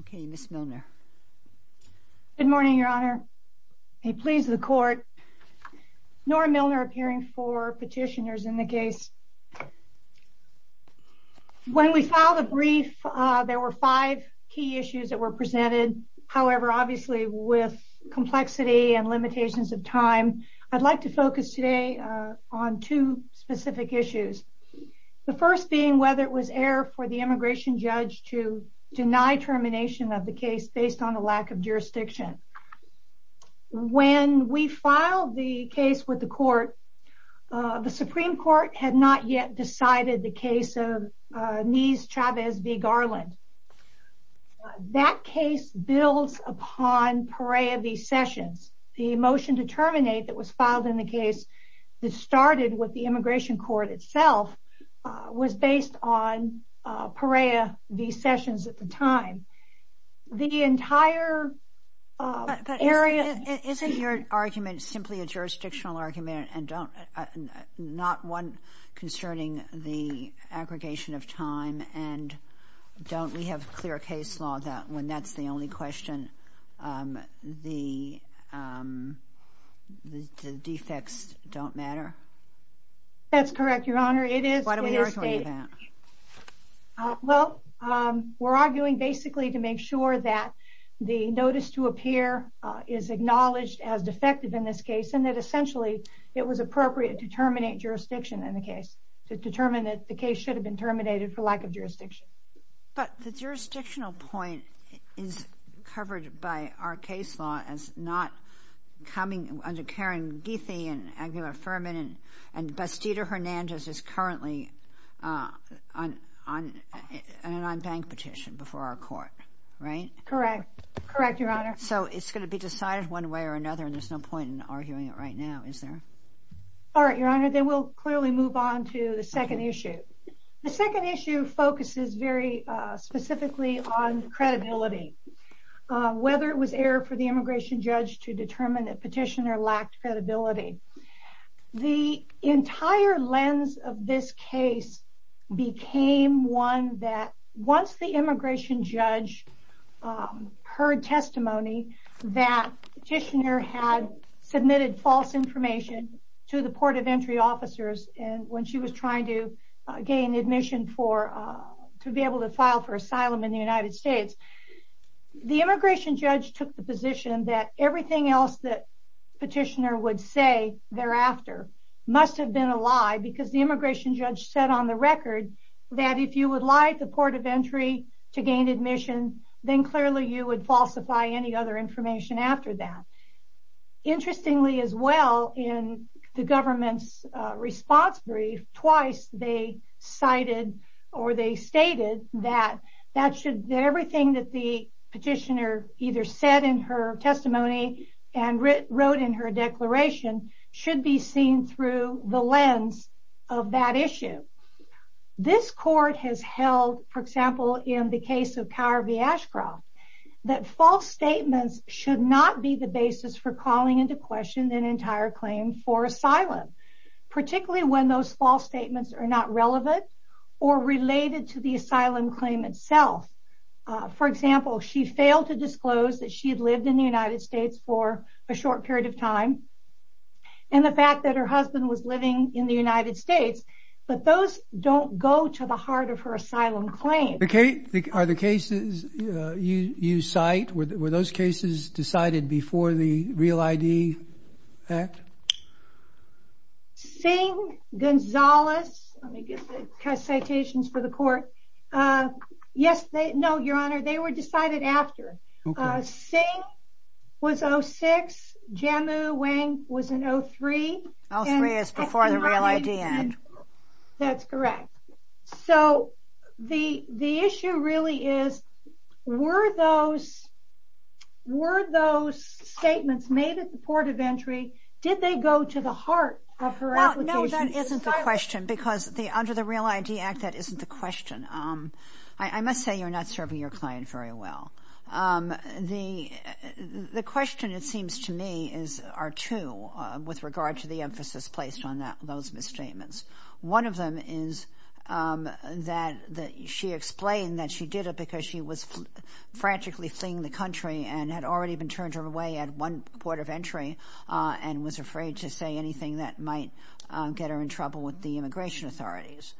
Okay, Ms. Milner. Good morning, Your Honor. May it please the court. Nora Milner, appearing for petitioners in the case. When we filed a brief, there were five key issues that were presented. However, obviously with complexity and limitations of time, I'd like to focus today on two specific issues. The first being whether it was error for the immigration judge to deny termination of the case based on a lack of jurisdiction. When we filed the case with the court, the Supreme Court had not yet decided the case of Nies Chavez v. Garland. That case builds upon Perea v. Sessions. The motion to terminate that was filed in the case that started with the immigration court itself was based on Perea v. Sessions at the time. The entire area... Isn't your argument simply a jurisdictional argument and not one concerning the aggregation of time? And don't we have clear case law that when that's the only question, the defects don't matter? That's correct, Your Honor. It is stated. Well, we're arguing basically to make sure that the notice to appear is acknowledged as defective in this case and that essentially it was appropriate to terminate jurisdiction in the case to determine that the case should have been terminated for lack of jurisdiction. But the jurisdictional point is covered by our case law as not coming under Karen and Bastida Hernandez is currently on an unbanked petition before our court, right? Correct. Correct, Your Honor. So it's going to be decided one way or another and there's no point in arguing it right now, is there? All right, Your Honor. Then we'll clearly move on to the second issue. The second issue focuses very specifically on credibility. Whether it was error for the immigration judge to determine that the entire lens of this case became one that once the immigration judge heard testimony that petitioner had submitted false information to the port of entry officers and when she was trying to gain admission to be able to file for asylum in the United States, the immigration judge took the position that everything else that petitioner would say thereafter must have been a lie because the immigration judge said on the record that if you would lie at the port of entry to gain admission, then clearly you would falsify any other information after that. Interestingly as well, in the government's response brief, twice they cited or they stated that everything that the petitioner either said in her and wrote in her declaration should be seen through the lens of that issue. This court has held, for example, in the case of Kara V. Ashcroft, that false statements should not be the basis for calling into question an entire claim for asylum, particularly when those false statements are not relevant or related to the asylum claim itself. For example, she failed to disclose that she had lived in the United States for a short period of time, and the fact that her husband was living in the United States, but those don't go to the heart of her asylum claim. Are the cases you cite, were those cases decided before the REAL ID Act? Singh, Gonzalez, let me get the citations for the court. Yes, they, no, was 06, Jammu, Wang was in 03. 03 is before the REAL ID Act. That's correct. So the the issue really is, were those statements made at the port of entry, did they go to the heart of her application? No, that isn't the question, because under the REAL ID Act, that isn't the question. I must say you're not serving your client very well. The question, it seems to me, are two with regard to the emphasis placed on those misstatements. One of them is that she explained that she did it because she was frantically fleeing the country and had already been turned her way at one port of entry and was afraid to say anything that might get her in trouble with the immigration authorities.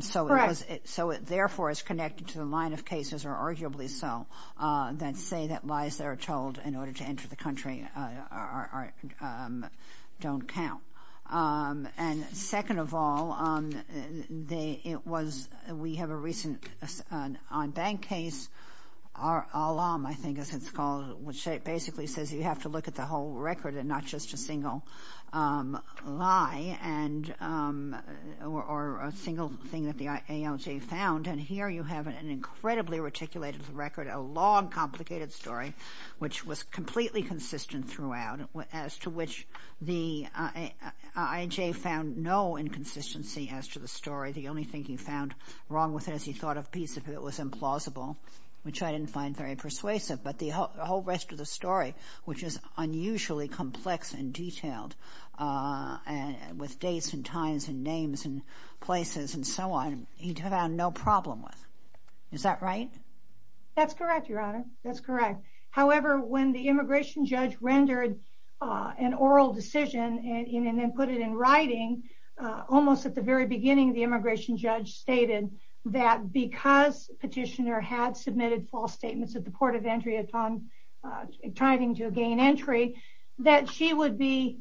So it therefore is connected to the line of cases, or arguably so, that say that lies that are told in order to enter the country don't count. And second of all, it was, we have a recent on-bank case, ALAM I think it's called, which basically says you have to look at the whole record and not just a single lie and or a single thing that the IAJ found. And here you have an incredibly reticulated record, a long complicated story, which was completely consistent throughout, as to which the IAJ found no inconsistency as to the story. The only thing he found wrong with it is he thought a piece of it was implausible, which I didn't find very persuasive. But the whole rest of the story, which is unusually complex and so on, he found no problem with. Is that right? That's correct, Your Honor. That's correct. However, when the immigration judge rendered an oral decision and then put it in writing, almost at the very beginning, the immigration judge stated that because Petitioner had submitted false statements at the port of entry upon trying to gain entry, that she would be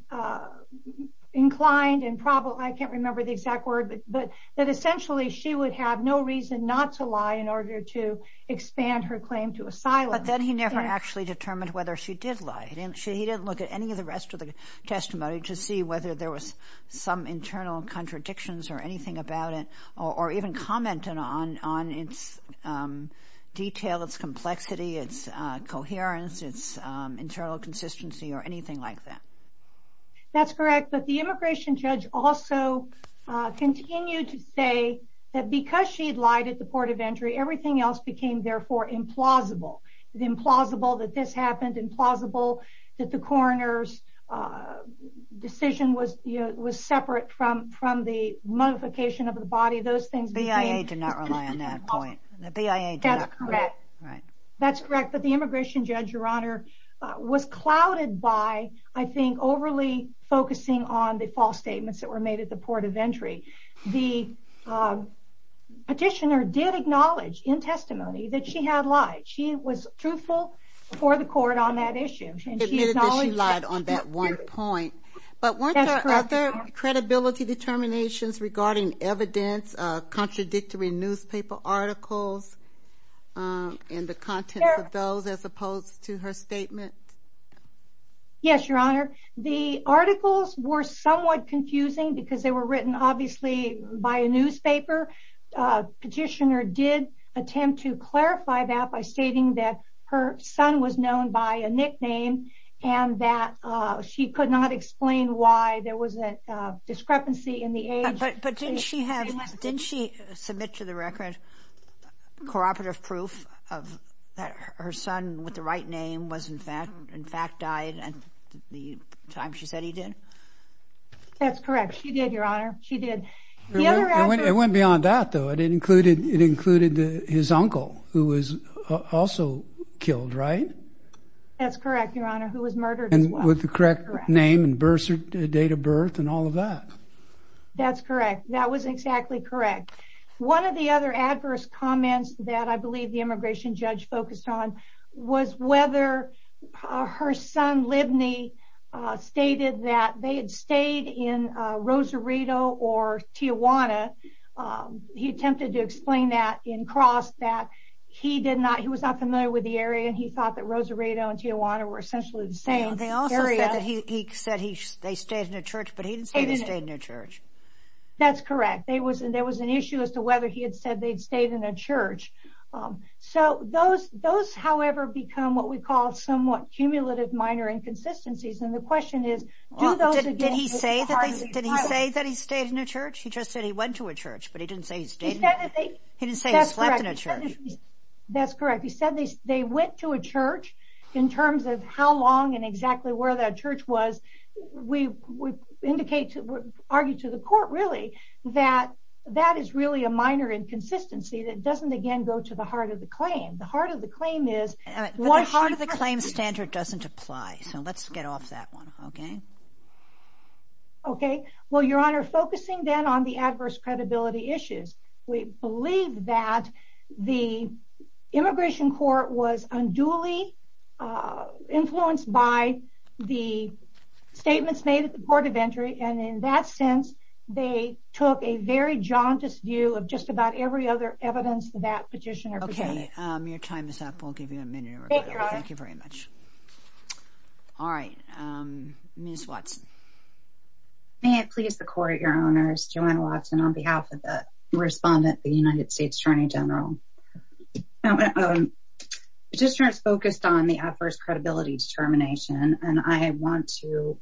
inclined and I can't remember the exact word, but that essentially she would have no reason not to lie in order to expand her claim to asylum. But then he never actually determined whether she did lie. He didn't look at any of the rest of the testimony to see whether there was some internal contradictions or anything about it, or even commented on its detail, its complexity, its coherence, its internal consistency, or anything like that. That's correct, but the immigration judge also continued to say that because she lied at the port of entry, everything else became, therefore, implausible. Implausible that this happened, implausible that the coroner's decision was separate from the modification of the body. The BIA did not rely on that point. That's correct, but the immigration judge, Your Honor, was clouded by, I think, overly focusing on the false statements that were made at the port of entry. The petitioner did acknowledge, in testimony, that she had lied. She was truthful before the court on that issue. She admitted that she lied on that one point, but weren't there other credibility determinations regarding evidence, contradictory newspaper articles, and the content of those, as opposed to her statement? Yes, Your Honor. The articles were somewhat confusing because they were written, obviously, by a newspaper. The petitioner did attempt to clarify that by stating that her son was known by a nickname, and that she could not explain why there was a discrepancy in the age. But didn't she submit to the court that her son was, in fact, died at the time she said he did? That's correct, she did, Your Honor, she did. It went beyond that, though. It included his uncle, who was also killed, right? That's correct, Your Honor, who was murdered as well. And with the correct name and date of birth and all of that. That's correct. That was exactly correct. One of the other adverse comments that, I believe, the immigration judge focused on was whether her son, Libney, stated that they had stayed in Rosarito or Tijuana. He attempted to explain that in cross, that he was not familiar with the area, and he thought that Rosarito and Tijuana were essentially the same area. He also said that they stayed in a church, but he didn't say they stayed in a church. That's correct. There was an issue as to whether he had said they'd stayed in a church. So those, however, become what we call somewhat cumulative minor inconsistencies. And the question is, did he say that he stayed in a church? He just said he went to a church, but he didn't say he stayed. He didn't say he slept in a church. That's correct. He said they went to a church in terms of how long and exactly where that church was. We argue to the court, really, that that is really a minor inconsistency that doesn't, again, go to the heart of the claim. The heart of the claim standard doesn't apply, so let's get off that one. Okay. Well, Your Honor, focusing then on the adverse credibility issues, we believe that the Immigration Court was unduly influenced by the statements made at the Court of Entry, and in that sense, they took a very jauntous view of just about every other evidence that petitioner presented. Okay. Your time is up. We'll give you a minute. Thank you very much. All right. Ms. Watson. May it please the Court, Your Honors, Joanna Watson, on behalf of the United States Attorney General. Petitioners focused on the adverse credibility determination, and I want to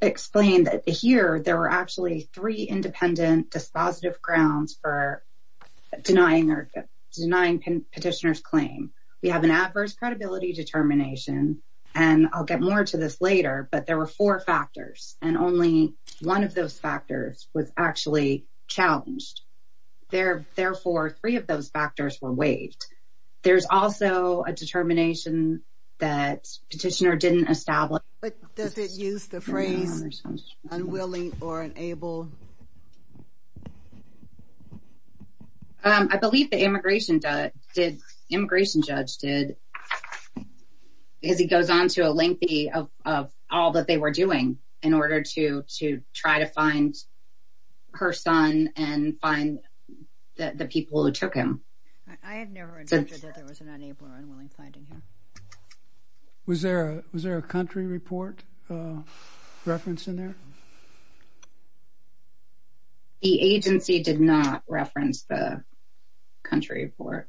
explain that here, there were actually three independent dispositive grounds for denying the petitioner's claim. We have an adverse credibility determination, and I'll get more to this later, but there were four factors, and only one of those factors was actually challenged. Therefore, three of those factors were waived. There's also a determination that petitioner didn't establish. But does it use the phrase unwilling or unable? I believe the immigration judge did, because he goes on to a lengthy of all that they were doing in order to try to find her son and find the people who took him. I have never heard that there was an unable or unwilling finding here. Was there a country report referenced in there? The agency did not reference the country report.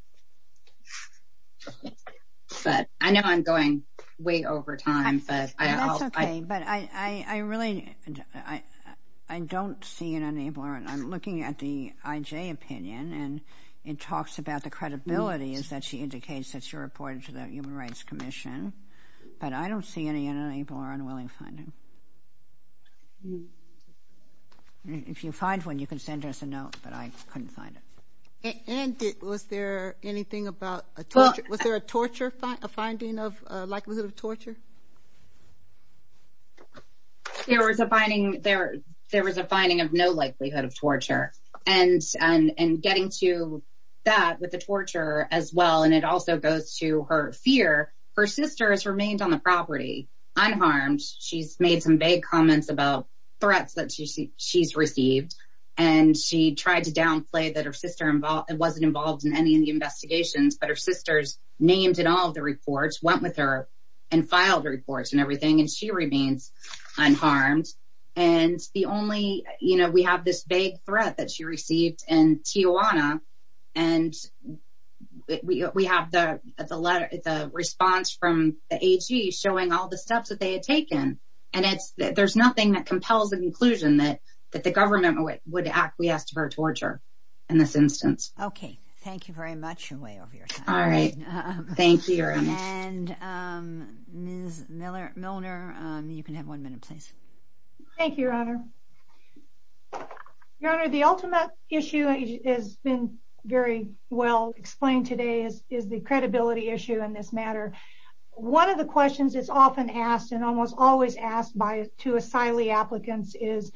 Okay. But I know I'm going way over time. That's okay, but I really, I don't see an unable or, I'm looking at the IJ opinion, and it talks about the credibility is that she indicates that she reported to the Human Rights Commission, but I don't see any unable or unwilling finding. If you find one, you can send us a note, but I couldn't find it. Was there anything about, was there a torture, a finding of likelihood of torture? There was a finding, there was a finding of no likelihood of torture. And getting to that with the torture as well, and it also goes to her fear, her sister has remained on the property, unharmed. She's made some vague comments about threats that she's received, and she tried to downplay that her sister wasn't involved in any of the investigations, but her sister's named in all of the reports, went with her, and filed reports and everything, and she remains unharmed. And the only, you know, we have this vague threat that she received in Tijuana, and we have the response from the AG showing all the steps that they had taken. And it's, there's nothing that compels the conclusion that that the government would acquiesce to her torture in this instance. Okay, thank you very much, you're way over your time. All right, thank you. And Ms. Milner, you can have one minute, please. Thank you, Your Honor. Your Honor, the ultimate issue has been very well explained today, is the credibility issue in this matter. One of the questions that's often asked, and almost always asked by two asylee applicants is,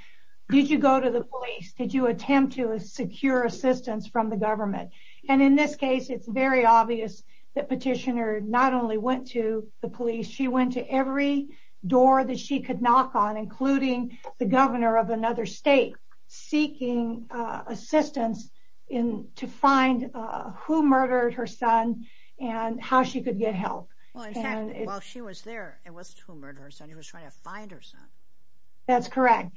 did you go to the police? Did you attempt to secure assistance from the government? And in this case, it's very obvious that Petitioner not only went to the police, she went to every door that she could knock on, including the governor of another state, seeking assistance to find who murdered her son, and how she could get help. Well, in fact, while she was there, it wasn't who murdered her son, it was trying to find her son. That's correct.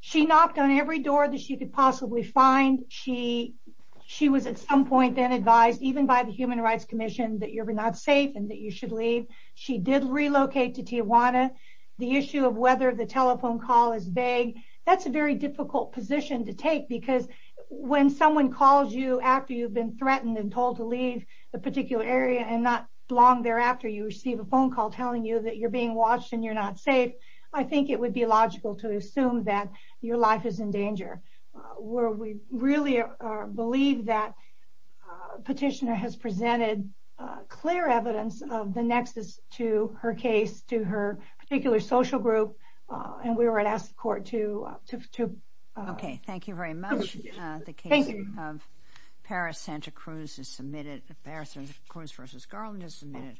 She knocked on every door that she could possibly find. She was at some point then advised, even by the Human Rights Commission, that you're not safe, and that you should leave. She did relocate to Tijuana. The issue of whether the telephone call is vague, that's a very difficult position to take, because when someone calls you after you've been threatened and told to leave the particular area, and not long thereafter, you receive a phone call telling you that you're being watched, and you're not safe, I think it would be logical to assume that your life is in danger. Where we really believe that Petitioner has presented clear evidence of the nexus to her case, to her particular social group, and we would ask the court to... Okay, thank you very much. The case of Paris-Santa Cruz is submitted. Paris-Santa Cruz v. Garland is submitted.